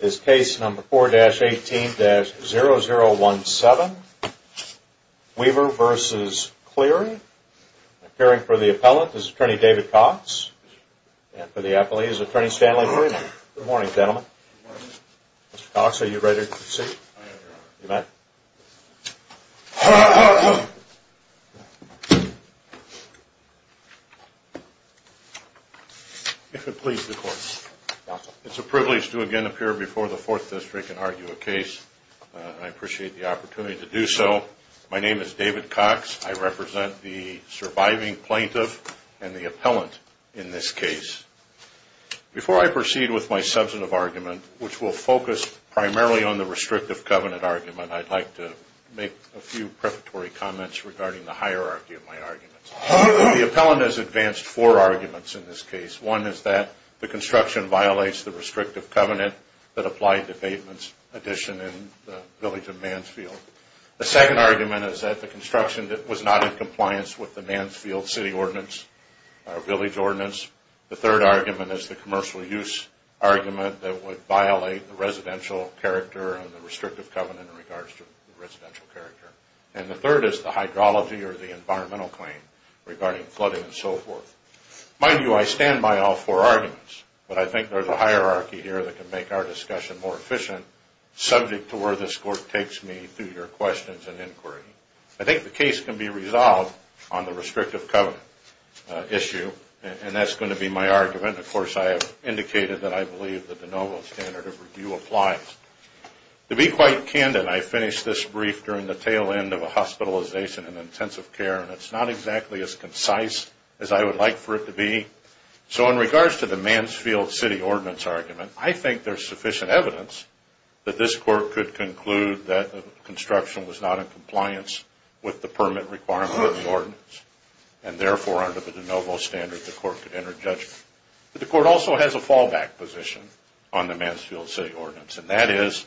is case number 4-18-0017, Weaver v. Cleary. Appearing for the appellant is attorney David Cox. And for the appellee is attorney Stanley Freeman. Good morning, gentlemen. Good morning. Mr. Cox, are you ready to proceed? I am, Your Honor. You may. If it pleases the Court. It's a privilege to again appear before the Fourth District and argue a case. I appreciate the opportunity to do so. My name is David Cox. I represent the surviving plaintiff and the appellant in this case. Before I proceed with my substantive argument, which will focus primarily on the restrictive covenant argument, I'd like to make a few prefatory comments regarding the hierarchy of my arguments. The appellant has advanced four arguments in this case. One is that the construction violates the restrictive covenant that applied to pavements addition in the village of Mansfield. The second argument is that the construction was not in compliance with the Mansfield city ordinance or village ordinance. The third argument is the commercial use argument that would violate the residential character and the restrictive covenant in regards to the residential character. And the third is the hydrology or the environmental claim regarding flooding and so forth. Mind you, I stand by all four arguments, but I think there's a hierarchy here that can make our discussion more efficient, subject to where this Court takes me through your questions and inquiry. I think the case can be resolved on the restrictive covenant issue, and that's going to be my argument. Of course, I have indicated that I believe that the novel standard of review applies. To be quite candid, I finished this brief during the tail end of a hospitalization in intensive care, and it's not exactly as concise as I would like for it to be. So in regards to the Mansfield city ordinance argument, I think there's sufficient evidence that this Court could conclude that the construction was not in compliance with the permit requirement of the ordinance, and therefore, under the de novo standard, the Court could enter judgment. But the Court also has a fallback position on the Mansfield city ordinance, and that is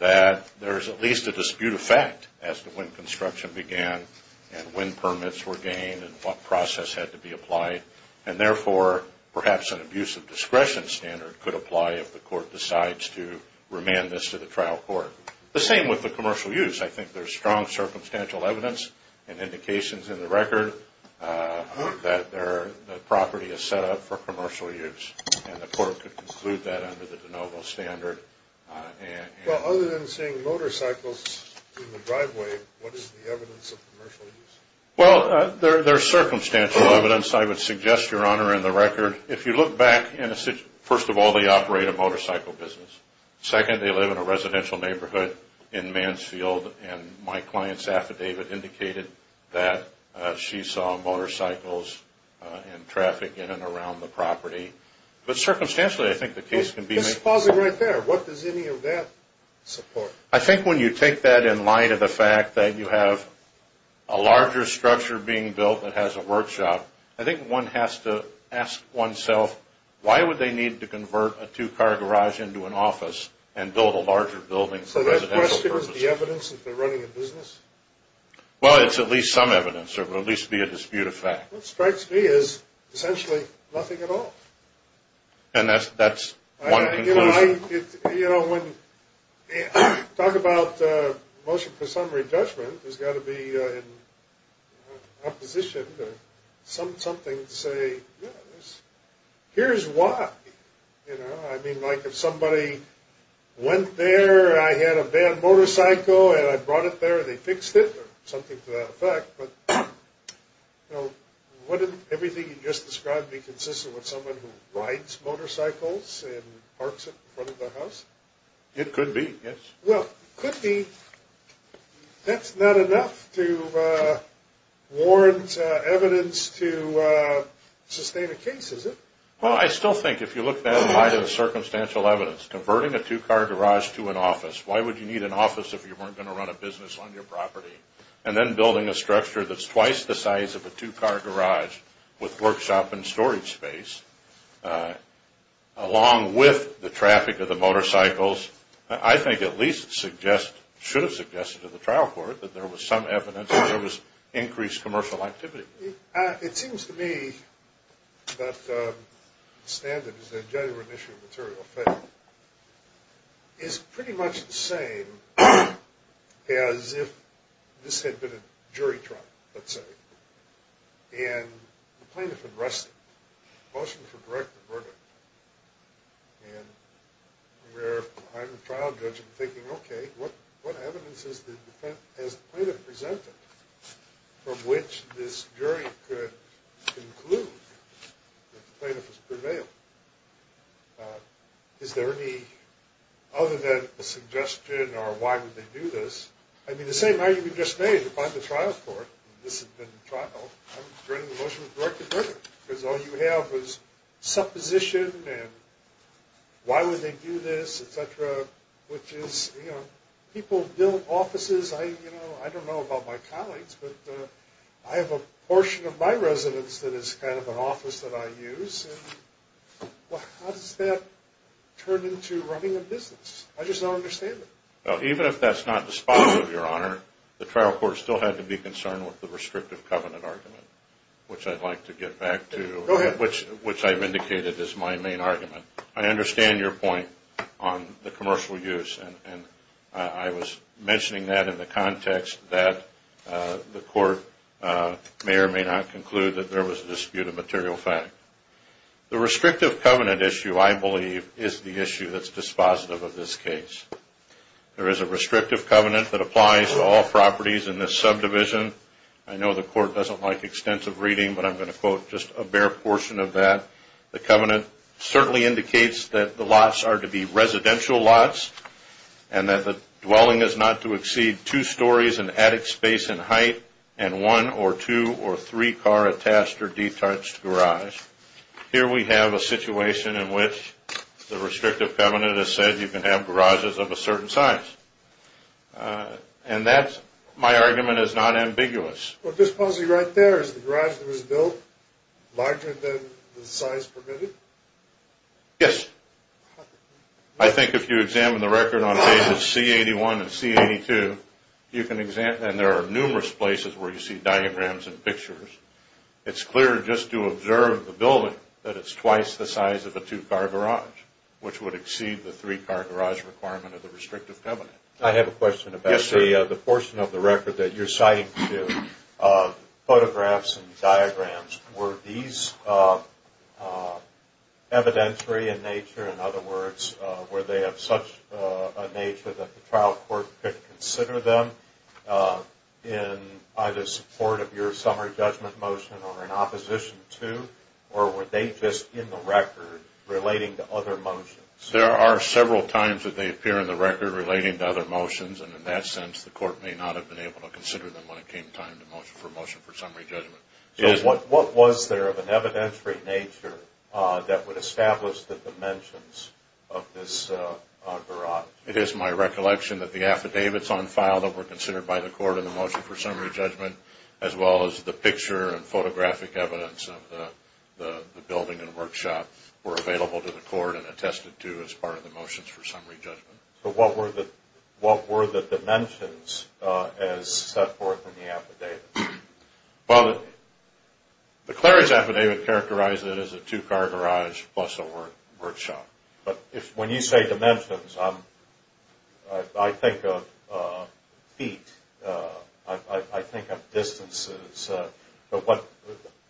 that there's at least a dispute of fact as to when construction began and when permits were gained and what process had to be applied, and therefore, perhaps an abuse of discretion standard could apply if the Court decides to remand this to the trial court. The same with the commercial use. I think there's strong circumstantial evidence and indications in the record that the property is set up for commercial use, and the Court could conclude that under the de novo standard. Well, other than seeing motorcycles in the driveway, what is the evidence of commercial use? Well, there's circumstantial evidence. I would suggest, Your Honor, in the record, if you look back, first of all, they operate a motorcycle business. Second, they live in a residential neighborhood in Mansfield, and my client's affidavit indicated that she saw motorcycles and traffic in and around the property. But circumstantially, I think the case can be made. I'm just pausing right there. What does any of that support? I think when you take that in light of the fact that you have a larger structure being built that has a workshop, I think one has to ask oneself, why would they need to convert a two-car garage into an office and build a larger building for residential purposes? So that question is the evidence that they're running a business? Well, it's at least some evidence, or it would at least be a dispute of fact. What strikes me is essentially nothing at all. And that's one conclusion. You know, when you talk about motion for summary judgment, there's got to be an opposition or something to say, you know, here's why. You know, I mean, like if somebody went there and I had a bad motorcycle and I brought it there and they fixed it or something to that effect, but wouldn't everything you just described be consistent with someone who rides motorcycles and parks it in front of the house? It could be, yes. Well, it could be. That's not enough to warrant evidence to sustain a case, is it? Well, I still think if you look at that in light of the circumstantial evidence, converting a two-car garage to an office, why would you need an office if you weren't going to run a business on your property? And then building a structure that's twice the size of a two-car garage with workshop and storage space along with the traffic of the motorcycles, I think at least should have suggested to the trial court that there was some evidence that there was increased commercial activity. It seems to me that the standard is that genuine issue of material failure is pretty much the same as if this had been a jury trial, let's say, and the plaintiff arrested, motion for direct verdict, and we're behind the trial judge and thinking, okay, what evidence has the plaintiff presented from which this jury could conclude that the plaintiff has prevailed? Is there any other than a suggestion or why would they do this? I mean, the same argument you just made, if I'm the trial court and this had been the trial, I'm adjourning the motion for direct verdict because all you have is supposition and why would they do this, et cetera, which is people build offices. I don't know about my colleagues, but I have a portion of my residence that is kind of an office that I use. How does that turn into running a business? I just don't understand it. Even if that's not the spot, Your Honor, the trial court still had to be concerned with the restrictive covenant argument, which I'd like to get back to, which I've indicated is my main argument. I understand your point on the commercial use, and I was mentioning that in the context that the court may or may not conclude that there was a dispute of material fact. The restrictive covenant issue, I believe, is the issue that's dispositive of this case. There is a restrictive covenant that applies to all properties in this subdivision. I know the court doesn't like extensive reading, but I'm going to quote just a bare portion of that. The covenant certainly indicates that the lots are to be residential lots and that the dwelling is not to exceed two stories in attic space in height and one or two or three car attached or detached garage. Here we have a situation in which the restrictive covenant has said you can have garages of a certain size, and that, my argument, is not ambiguous. This policy right there, is the garage that was built larger than the size permitted? Yes. I think if you examine the record on pages C81 and C82, and there are numerous places where you see diagrams and pictures, it's clear just to observe the building that it's twice the size of a two-car garage, which would exceed the three-car garage requirement of the restrictive covenant. I have a question about the portion of the record that you're citing, too. Photographs and diagrams, were these evidentiary in nature? In other words, were they of such a nature that the trial court could consider them in either support of your summer judgment motion or in opposition to, or were they just in the record relating to other motions? There are several times that they appear in the record relating to other motions, and in that sense the court may not have been able to consider them when it came time for motion for summary judgment. What was there of an evidentiary nature that would establish the dimensions of this garage? It is my recollection that the affidavits on file that were considered by the court in the motion for summary judgment, as well as the picture and photographic evidence of the building and workshop, were available to the court and attested to as part of the motions for summary judgment. So what were the dimensions as set forth in the affidavit? Well, the Clery's affidavit characterized it as a two-car garage plus a workshop. When you say dimensions, I think of feet. I think of distances.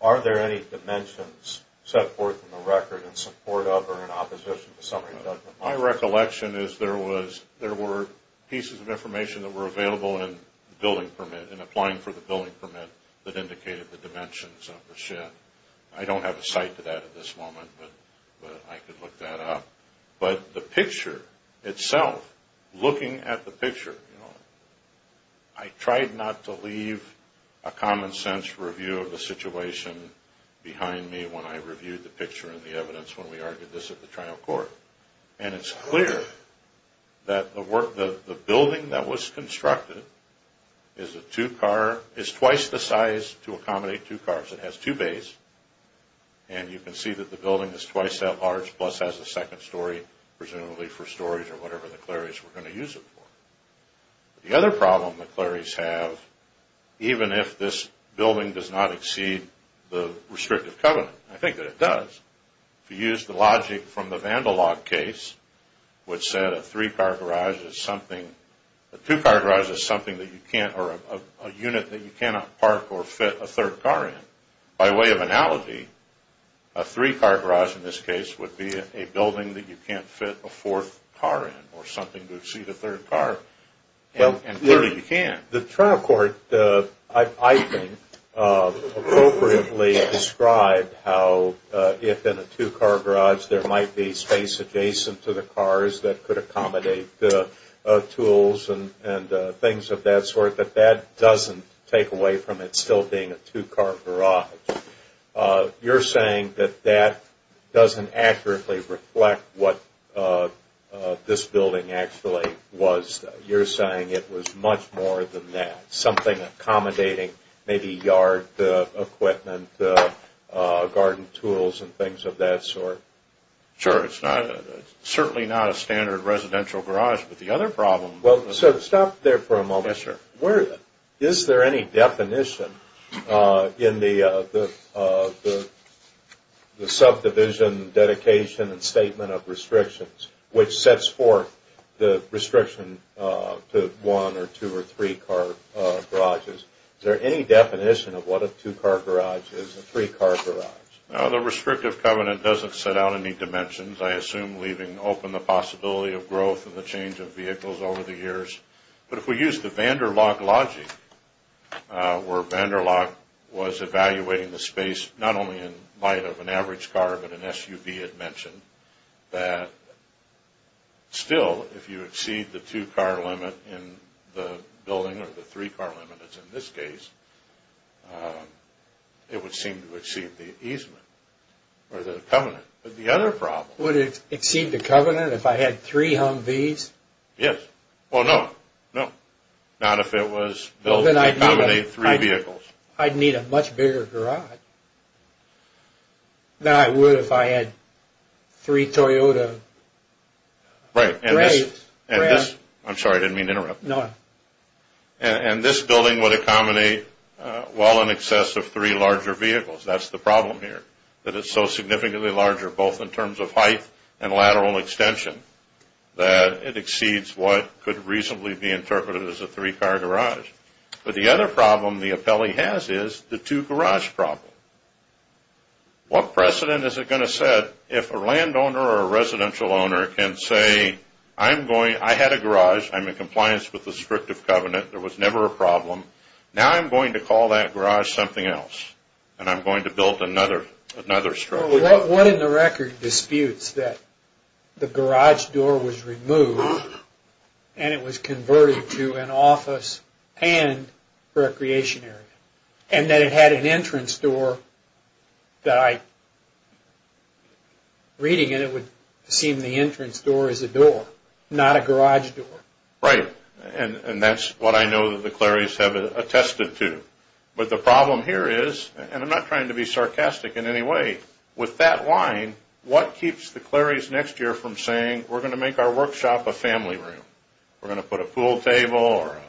Are there any dimensions set forth in the record in support of or in opposition to summary judgment? My recollection is there were pieces of information that were available in the billing permit, in applying for the billing permit, that indicated the dimensions of the shed. I don't have a cite to that at this moment, but I could look that up. But the picture itself, looking at the picture, I tried not to leave a common-sense review of the situation behind me when I reviewed the picture and the evidence when we argued this at the trial court. And it's clear that the building that was constructed is twice the size to accommodate two cars. It has two bays, and you can see that the building is twice that large, plus has a second story, presumably for storage or whatever the Clery's were going to use it for. The other problem the Clery's have, even if this building does not exceed the restrictive covenant, I think that it does, if you use the logic from the vandal log case, which said a two-car garage is a unit that you cannot park or fit a third car in. By way of analogy, a three-car garage in this case would be a building that you can't fit a fourth car in or something to exceed a third car, and clearly you can't. The trial court, I think, appropriately described how, if in a two-car garage, there might be space adjacent to the cars that could accommodate tools and things of that sort, but that doesn't take away from it still being a two-car garage. You're saying that that doesn't accurately reflect what this building actually was. You're saying it was much more than that, something accommodating, maybe yard equipment, garden tools and things of that sort. Sure. It's certainly not a standard residential garage. Stop there for a moment. Yes, sir. Is there any definition in the subdivision dedication and statement of restrictions which sets forth the restriction to one or two or three-car garages? Is there any definition of what a two-car garage is and a three-car garage? The restrictive covenant doesn't set out any dimensions. I assume leaving open the possibility of growth and the change of vehicles over the years. But if we use the van der Locke logic, where van der Locke was evaluating the space, not only in light of an average car but an SUV, it mentioned that still if you exceed the two-car limit in the building or the three-car limit as in this case, it would seem to exceed the easement or the covenant. But the other problem... Would it exceed the covenant if I had three Humvees? Yes. Well, no. No. Not if it was built to accommodate three vehicles. I'd need a much bigger garage than I would if I had three Toyota Wraiths. I'm sorry. I didn't mean to interrupt. No. And this building would accommodate well in excess of three larger vehicles. That's the problem here, that it's so significantly larger, both in terms of height and lateral extension, that it exceeds what could reasonably be interpreted as a three-car garage. But the other problem the appellee has is the two-garage problem. What precedent is it going to set if a landowner or a residential owner can say, I had a garage. I'm in compliance with the restrictive covenant. There was never a problem. Now I'm going to call that garage something else, and I'm going to build another structure. What in the record disputes that the garage door was removed and it was converted to an office and recreation area, and that it had an entrance door that I... Reading it, it would seem the entrance door is a door, not a garage door. Right. And that's what I know that the Claries have attested to. But the problem here is, and I'm not trying to be sarcastic in any way, with that line, what keeps the Claries next year from saying, we're going to make our workshop a family room. We're going to put a pool table or a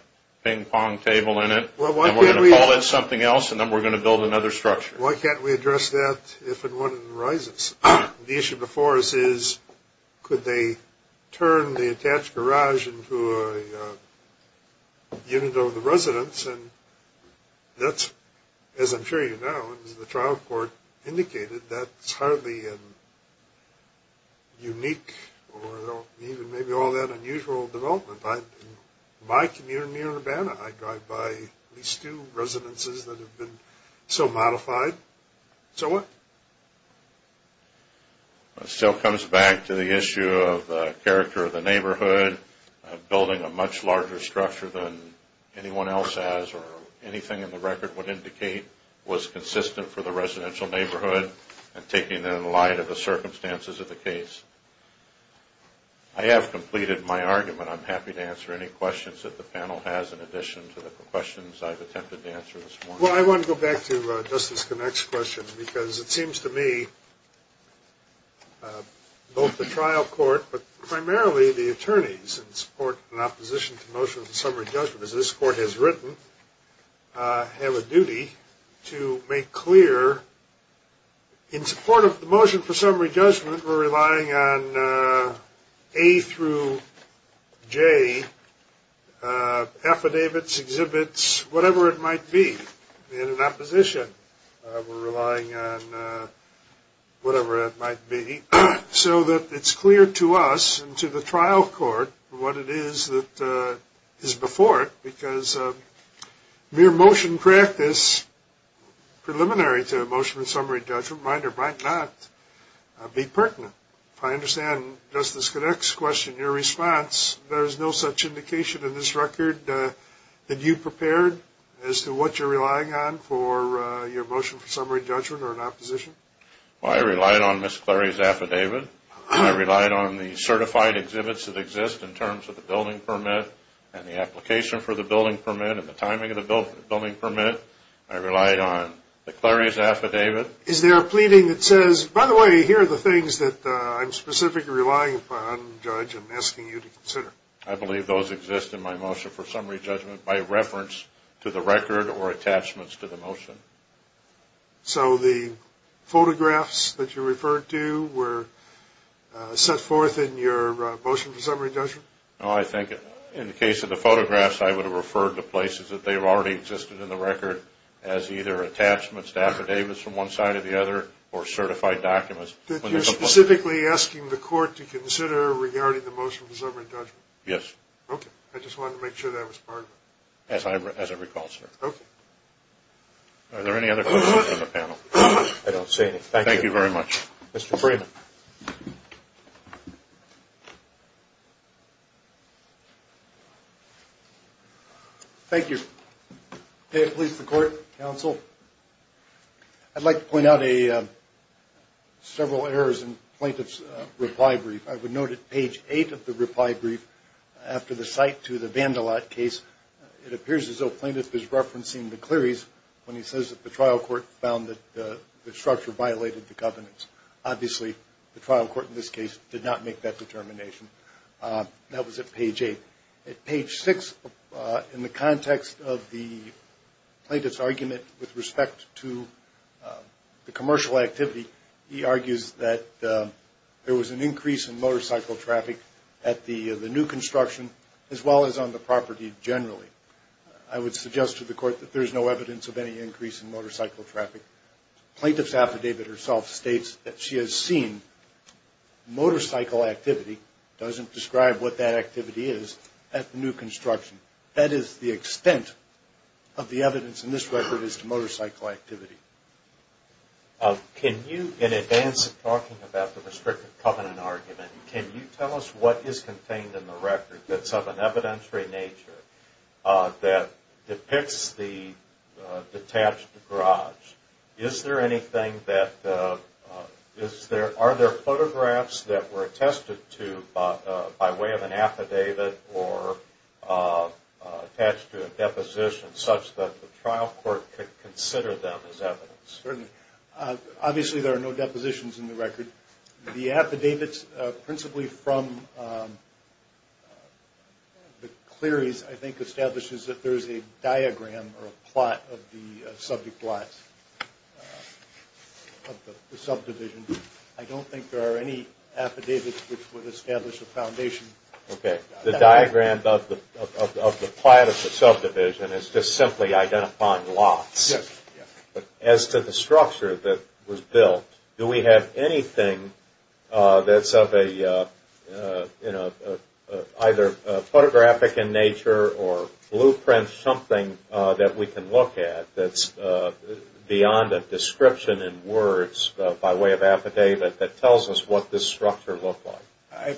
ping-pong table in it, and we're going to call it something else, and then we're going to build another structure. Why can't we address that if and when it arises? The issue before us is, could they turn the attached garage into a unit of the residence, and that's, as I'm sure you know, as the trial court indicated, that's hardly a unique or even maybe all that unusual development. In my community in Urbana, I drive by at least two residences that have been so modified. So what? It still comes back to the issue of the character of the neighborhood, building a much larger structure than anyone else has or anything in the record would indicate was consistent for the residential neighborhood and taking it in light of the circumstances of the case. I have completed my argument. I'm happy to answer any questions that the panel has in addition to the questions I've attempted to answer this morning. Well, I want to go back to Justice Connacht's question because it seems to me both the trial court but primarily the attorneys in support and opposition to the motion for summary judgment, as this court has written, have a duty to make clear in support of the motion for summary judgment, we're relying on A through J affidavits, exhibits, whatever it might be. In opposition, we're relying on whatever it might be, so that it's clear to us and to the trial court what it is that is before it Mere motion practice preliminary to a motion for summary judgment might or might not be pertinent. If I understand Justice Connacht's question, your response, there is no such indication in this record that you prepared as to what you're relying on for your motion for summary judgment or in opposition? Well, I relied on Ms. Clary's affidavit. I relied on the certified exhibits that exist in terms of the building permit and the application for the building permit and the timing of the building permit. I relied on the Clary's affidavit. Is there a pleading that says, by the way, here are the things that I'm specifically relying upon, Judge, and asking you to consider? I believe those exist in my motion for summary judgment by reference to the record or attachments to the motion. So the photographs that you referred to were set forth in your motion for summary judgment? No, I think in the case of the photographs, I would have referred to places that they already existed in the record as either attachments to affidavits from one side or the other or certified documents. You're specifically asking the court to consider regarding the motion for summary judgment? Yes. Okay. I just wanted to make sure that was part of it. As I recall, sir. Okay. Are there any other questions from the panel? I don't see any. Thank you. Thank you very much. Mr. Freeman. Thank you. May it please the Court, Counsel. I'd like to point out several errors in Plaintiff's reply brief. I would note at page 8 of the reply brief, after the cite to the Vandalat case, it appears as though Plaintiff is referencing the Clary's when he says that the trial court found that the structure violated the governance. Obviously, the trial court in this case did not make that determination. That was at page 8. At page 6, in the context of the Plaintiff's argument with respect to the commercial activity, he argues that there was an increase in motorcycle traffic at the new construction as well as on the property generally. I would suggest to the Court that there is no evidence of any increase in motorcycle traffic. Plaintiff's affidavit herself states that she has seen motorcycle activity, doesn't describe what that activity is, at the new construction. That is the extent of the evidence in this record as to motorcycle activity. Can you, in advance of talking about the restrictive covenant argument, can you tell us what is contained in the record that is of an evidentiary nature that depicts the detached garage? Are there photographs that were attested to by way of an affidavit or attached to a deposition such that the trial court could consider them as evidence? Certainly. Obviously, there are no depositions in the record. The affidavits principally from the clearies, I think, establishes that there is a diagram or a plot of the subject lots of the subdivision. I don't think there are any affidavits which would establish a foundation. Okay. The diagram of the plot of the subdivision is just simply identifying lots. Yes. As to the structure that was built, do we have anything that is of either a photographic in nature or blueprint something that we can look at that is beyond a description in words by way of affidavit that tells us what this structure looked like? I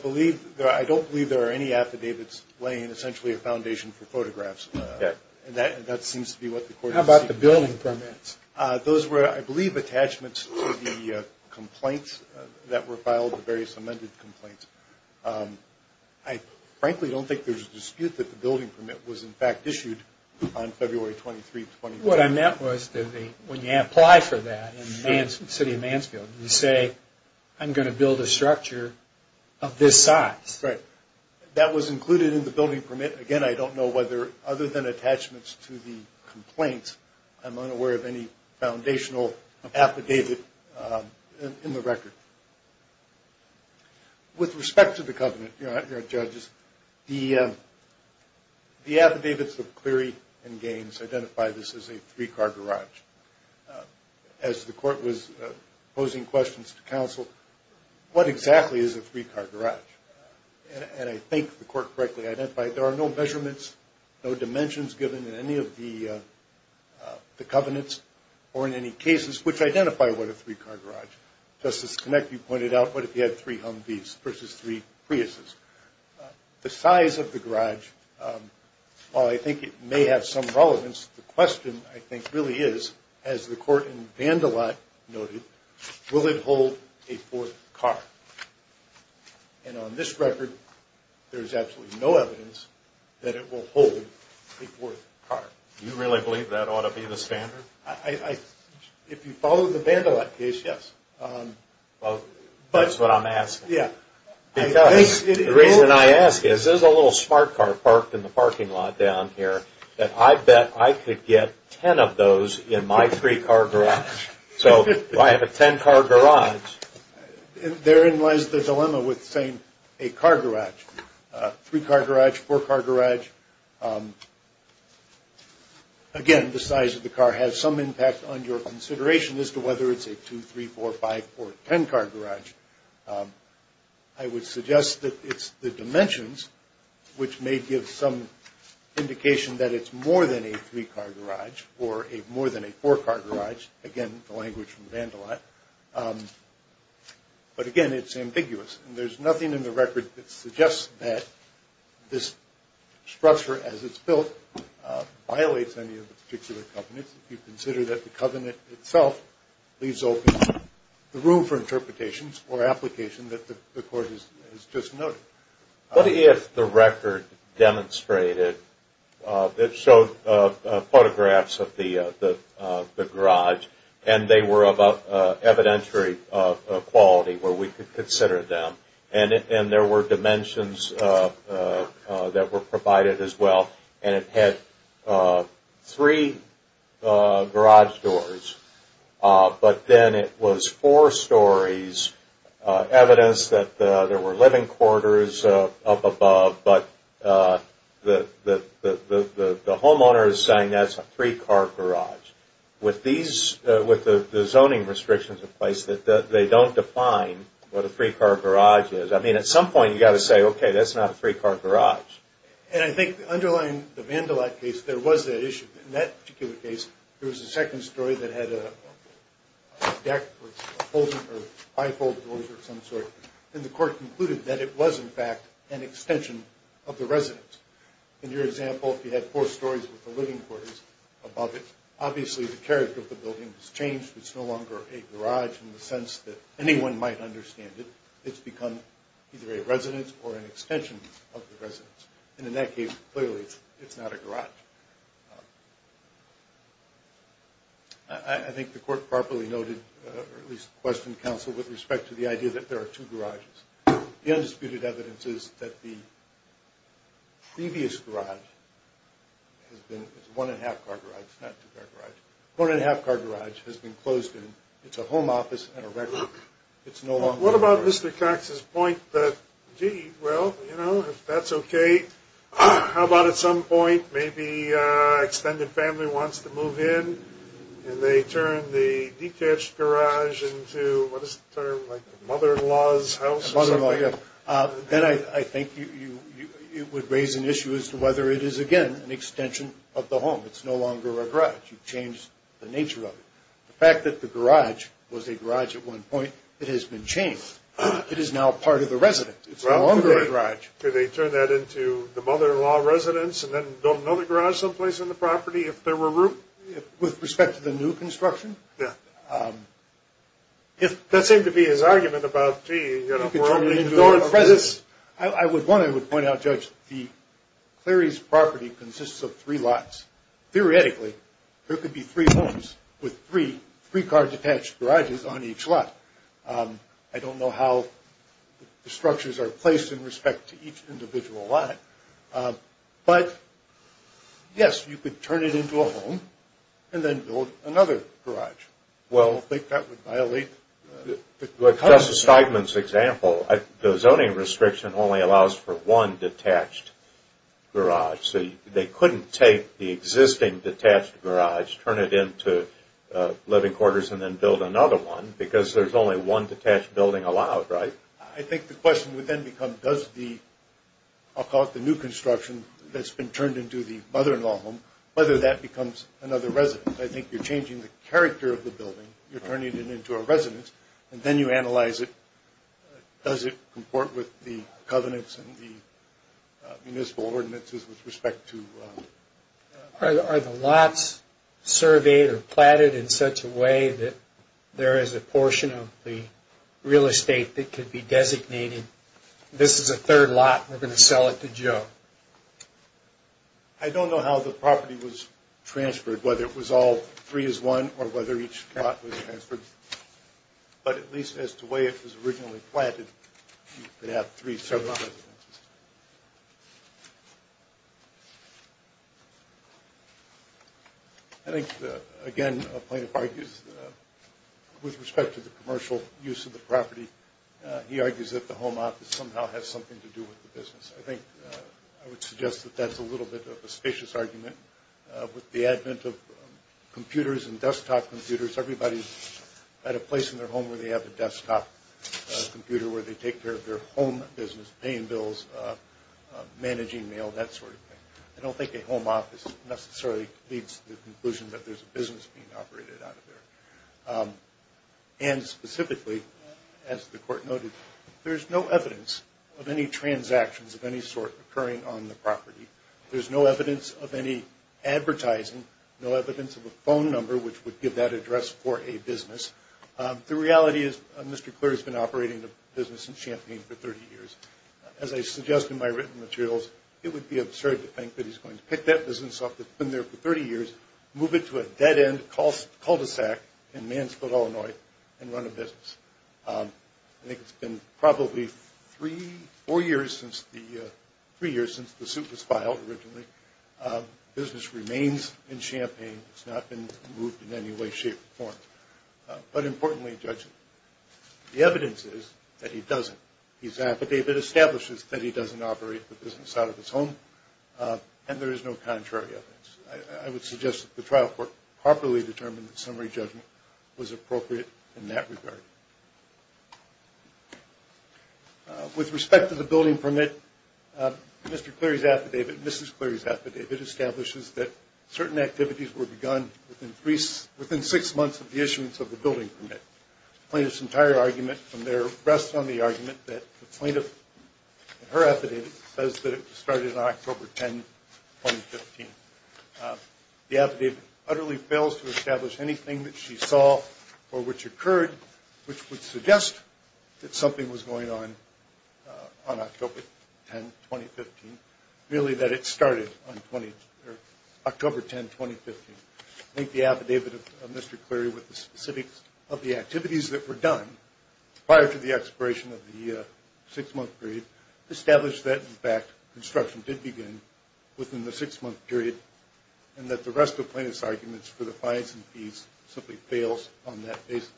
don't believe there are any affidavits laying essentially a foundation for photographs. Okay. How about the building permits? Those were, I believe, attachments to the complaints that were filed, the various amended complaints. I frankly don't think there's a dispute that the building permit was, in fact, issued on February 23, 2011. What I meant was when you apply for that in the city of Mansfield, you say, I'm going to build a structure of this size. Right. That was included in the building permit. Again, I don't know whether other than attachments to the complaints, I'm unaware of any foundational affidavit in the record. With respect to the covenant, Your Honor and Judges, the affidavits of Cleary and Gaines identify this as a three-car garage. As the court was posing questions to counsel, what exactly is a three-car garage? And I think the court correctly identified there are no measurements, no dimensions given in any of the covenants or in any cases which identify what a three-car garage. Justice Kinect, you pointed out, what if you had three Humvees versus three Priuses? The size of the garage, while I think it may have some relevance, the question, I think, really is, as the court in Vandalotte noted, will it hold a fourth car? And on this record, there is absolutely no evidence that it will hold a fourth car. Do you really believe that ought to be the standard? If you follow the Vandalotte case, yes. Well, that's what I'm asking. Yeah. Because the reason I ask is there's a little smart car parked in the parking lot down here that I bet I could get ten of those in my three-car garage. So do I have a ten-car garage? Therein lies the dilemma with saying a car garage, three-car garage, four-car garage. Again, the size of the car has some impact on your consideration as to whether it's a two-, three-, four-, five-, four-, ten-car garage. I would suggest that it's the dimensions, which may give some indication that it's more than a three-car garage or more than a four-car garage, again, the language from Vandalotte. But, again, it's ambiguous. And there's nothing in the record that suggests that this structure, as it's built, violates any of the particular covenants. If you consider that the covenant itself leaves open the room for interpretations or application that the court has just noted. What if the record demonstrated that showed photographs of the garage and they were of evidentiary quality where we could consider them and there were dimensions that were provided as well and it had three garage doors, but then it was four stories, evidence that there were living quarters up above, but the homeowner is saying that's a three-car garage. With the zoning restrictions in place, they don't define what a three-car garage is. I mean, at some point you've got to say, okay, that's not a three-car garage. And I think underlying the Vandalotte case, there was that issue. In that particular case, there was a second story that had a deck or five-fold doors of some sort. And the court concluded that it was, in fact, an extension of the residence. In your example, if you had four stories with the living quarters above it, obviously the character of the building has changed. It's no longer a garage in the sense that anyone might understand it. It's become either a residence or an extension of the residence. And in that case, clearly it's not a garage. I think the court properly noted, or at least questioned counsel, with respect to the idea that there are two garages. The undisputed evidence is that the previous garage has been, it's a one-and-a-half-car garage, not two-car garage. One-and-a-half-car garage has been closed, and it's a home office and a record. It's no longer a garage. Max's point that, gee, well, you know, if that's okay, how about at some point maybe extended family wants to move in, and they turn the detached garage into, what is the term, like the mother-in-law's house or something? Mother-in-law, yeah. Then I think it would raise an issue as to whether it is, again, an extension of the home. It's no longer a garage. You've changed the nature of it. The fact that the garage was a garage at one point, it has been changed. It is now part of the resident. It's no longer a garage. Could they turn that into the mother-in-law residence and then build another garage someplace on the property if there were room? With respect to the new construction? Yeah. That seemed to be his argument about, gee, you know, we're only going to do this. I would, one, I would point out, Judge, the Cleary's property consists of three lots. Theoretically, there could be three homes with three car-detached garages on each lot. I don't know how the structures are placed in respect to each individual lot. But, yes, you could turn it into a home and then build another garage. Well, I think that would violate. With Justice Steigman's example, the zoning restriction only allows for one detached garage. So they couldn't take the existing detached garage, turn it into living quarters, and then build another one because there's only one detached building allowed, right? I think the question would then become does the, I'll call it the new construction, that's been turned into the mother-in-law home, whether that becomes another residence. I think you're changing the character of the building. You're turning it into a residence. And then you analyze it. Does it comport with the covenants and the municipal ordinances with respect to... Are the lots surveyed or platted in such a way that there is a portion of the real estate that could be designated, this is a third lot, we're going to sell it to Joe? I don't know how the property was transferred, whether it was all three as one or whether each lot was transferred. But at least as to the way it was originally platted, they have three separate residences. I think, again, Plaintiff argues with respect to the commercial use of the property, he argues that the home office somehow has something to do with the business. I think I would suggest that that's a little bit of a spacious argument. With the advent of computers and desktop computers, everybody's got a place in their home where they have a desktop computer where they take care of their home business, paying bills, managing mail, that sort of thing. I don't think a home office necessarily leads to the conclusion that there's a business being operated out of there. And specifically, as the Court noted, there's no evidence of any transactions of any sort occurring on the property. There's no evidence of any advertising, no evidence of a phone number which would give that address for a business. The reality is Mr. Clear has been operating the business in Champaign for 30 years. As I suggest in my written materials, it would be absurd to think that he's going to pick that business up that's been there for 30 years, move it to a dead-end cul-de-sac in Mansfield, Illinois, and run a business. I think it's been probably three, four years since the suit was filed originally. The business remains in Champaign. It's not been moved in any way, shape, or form. But importantly, Judge, the evidence is that he doesn't. David establishes that he doesn't operate the business out of his home, and there is no contrary evidence. I would suggest that the trial court properly determined that summary judgment was appropriate in that regard. With respect to the building permit, Mr. Cleary's affidavit, Mrs. Cleary's affidavit, establishes that certain activities were begun within six months of the issuance of the building permit. The plaintiff's entire argument from there rests on the argument that the plaintiff, in her affidavit, says that it was started on October 10, 2015. The affidavit utterly fails to establish anything that she saw or which occurred, which would suggest that something was going on on October 10, 2015, really that it started on October 10, 2015. I think the affidavit of Mr. Cleary with the specifics of the activities that were done prior to the expiration of the six-month period established that, in fact, construction did begin within the six-month period and that the rest of the plaintiff's arguments for the fines and fees simply fails on that basis.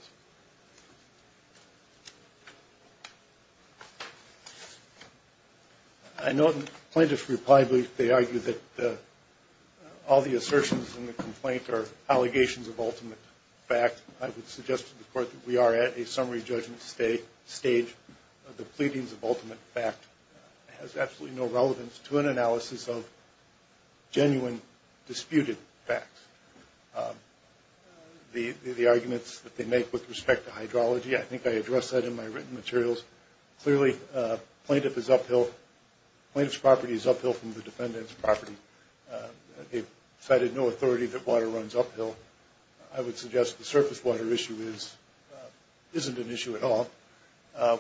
I note in the plaintiff's reply brief they argue that all the assertions in the complaint are allegations of ultimate fact. I would suggest to the court that we are at a summary judgment stage. The pleadings of ultimate fact has absolutely no relevance to an analysis of genuine disputed facts. The arguments that they make with respect to hydrology, I think I addressed that in my written materials. Clearly, the plaintiff's property is uphill from the defendant's property. They cited no authority that water runs uphill. I would suggest the surface water issue isn't an issue at all.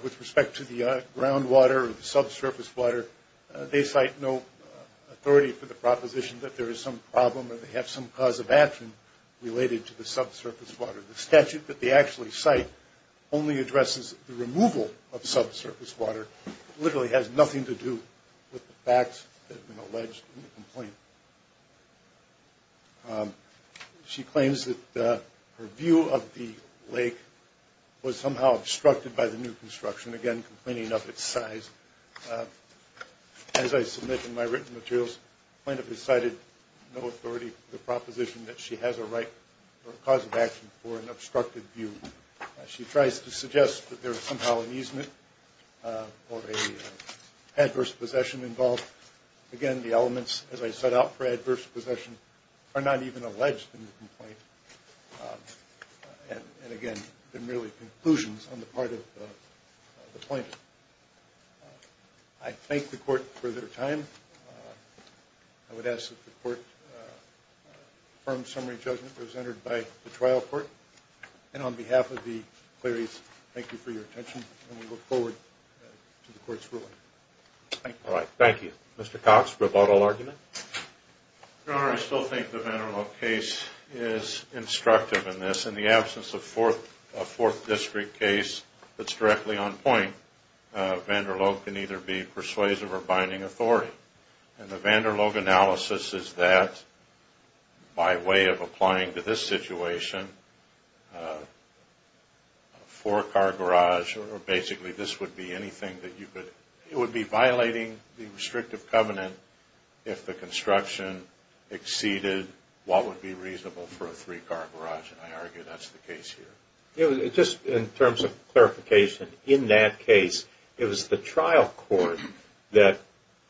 With respect to the groundwater or the subsurface water, they cite no authority for the proposition that there is some problem or they have some cause of action related to the subsurface water. The statute that they actually cite only addresses the removal of subsurface water. It literally has nothing to do with the facts that have been alleged in the complaint. She claims that her view of the lake was somehow obstructed by the new construction, again, complaining of its size. As I submit in my written materials, the plaintiff has cited no authority for the proposition that she has a right or a cause of action for an obstructed view. She tries to suggest that there is somehow an easement or an adverse possession involved. Again, the elements, as I set out, for adverse possession are not even alleged in the complaint. Again, they're merely conclusions on the part of the plaintiff. I thank the court for their time. I would ask that the court confirm summary judgment presented by the trial court. On behalf of the cleries, thank you for your attention. We look forward to the court's ruling. Thank you. Thank you. Mr. Cox, rebuttal argument? Your Honor, I still think the Vanderloeg case is instructive in this. In the absence of a Fourth District case that's directly on point, Vanderloeg can either be persuasive or binding authority. And the Vanderloeg analysis is that, by way of applying to this situation, a four-car garage or basically this would be anything that you could – it would be violating the restrictive covenant if the construction exceeded what would be reasonable for a three-car garage. And I argue that's the case here. Just in terms of clarification, in that case, it was the trial court that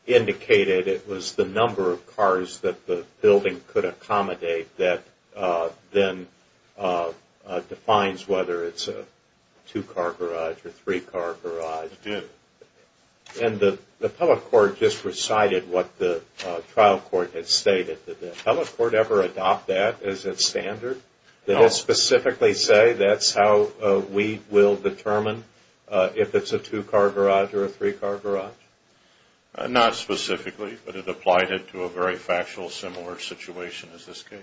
indicated it was the number of cars that the building could accommodate that then defines whether it's a two-car garage or three-car garage. It did. And the public court just recited what the trial court had stated. Did the public court ever adopt that as its standard? No. Did it specifically say that's how we will determine if it's a two-car garage or a three-car garage? Not specifically, but it applied it to a very factual similar situation as this case.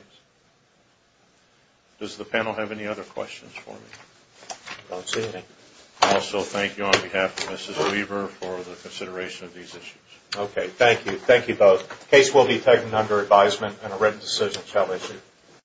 Does the panel have any other questions for me? I don't see any. I also thank you on behalf of Mrs. Weaver for the consideration of these issues. Okay, thank you. Thank you both. The case will be taken under advisement and a written decision shall issue.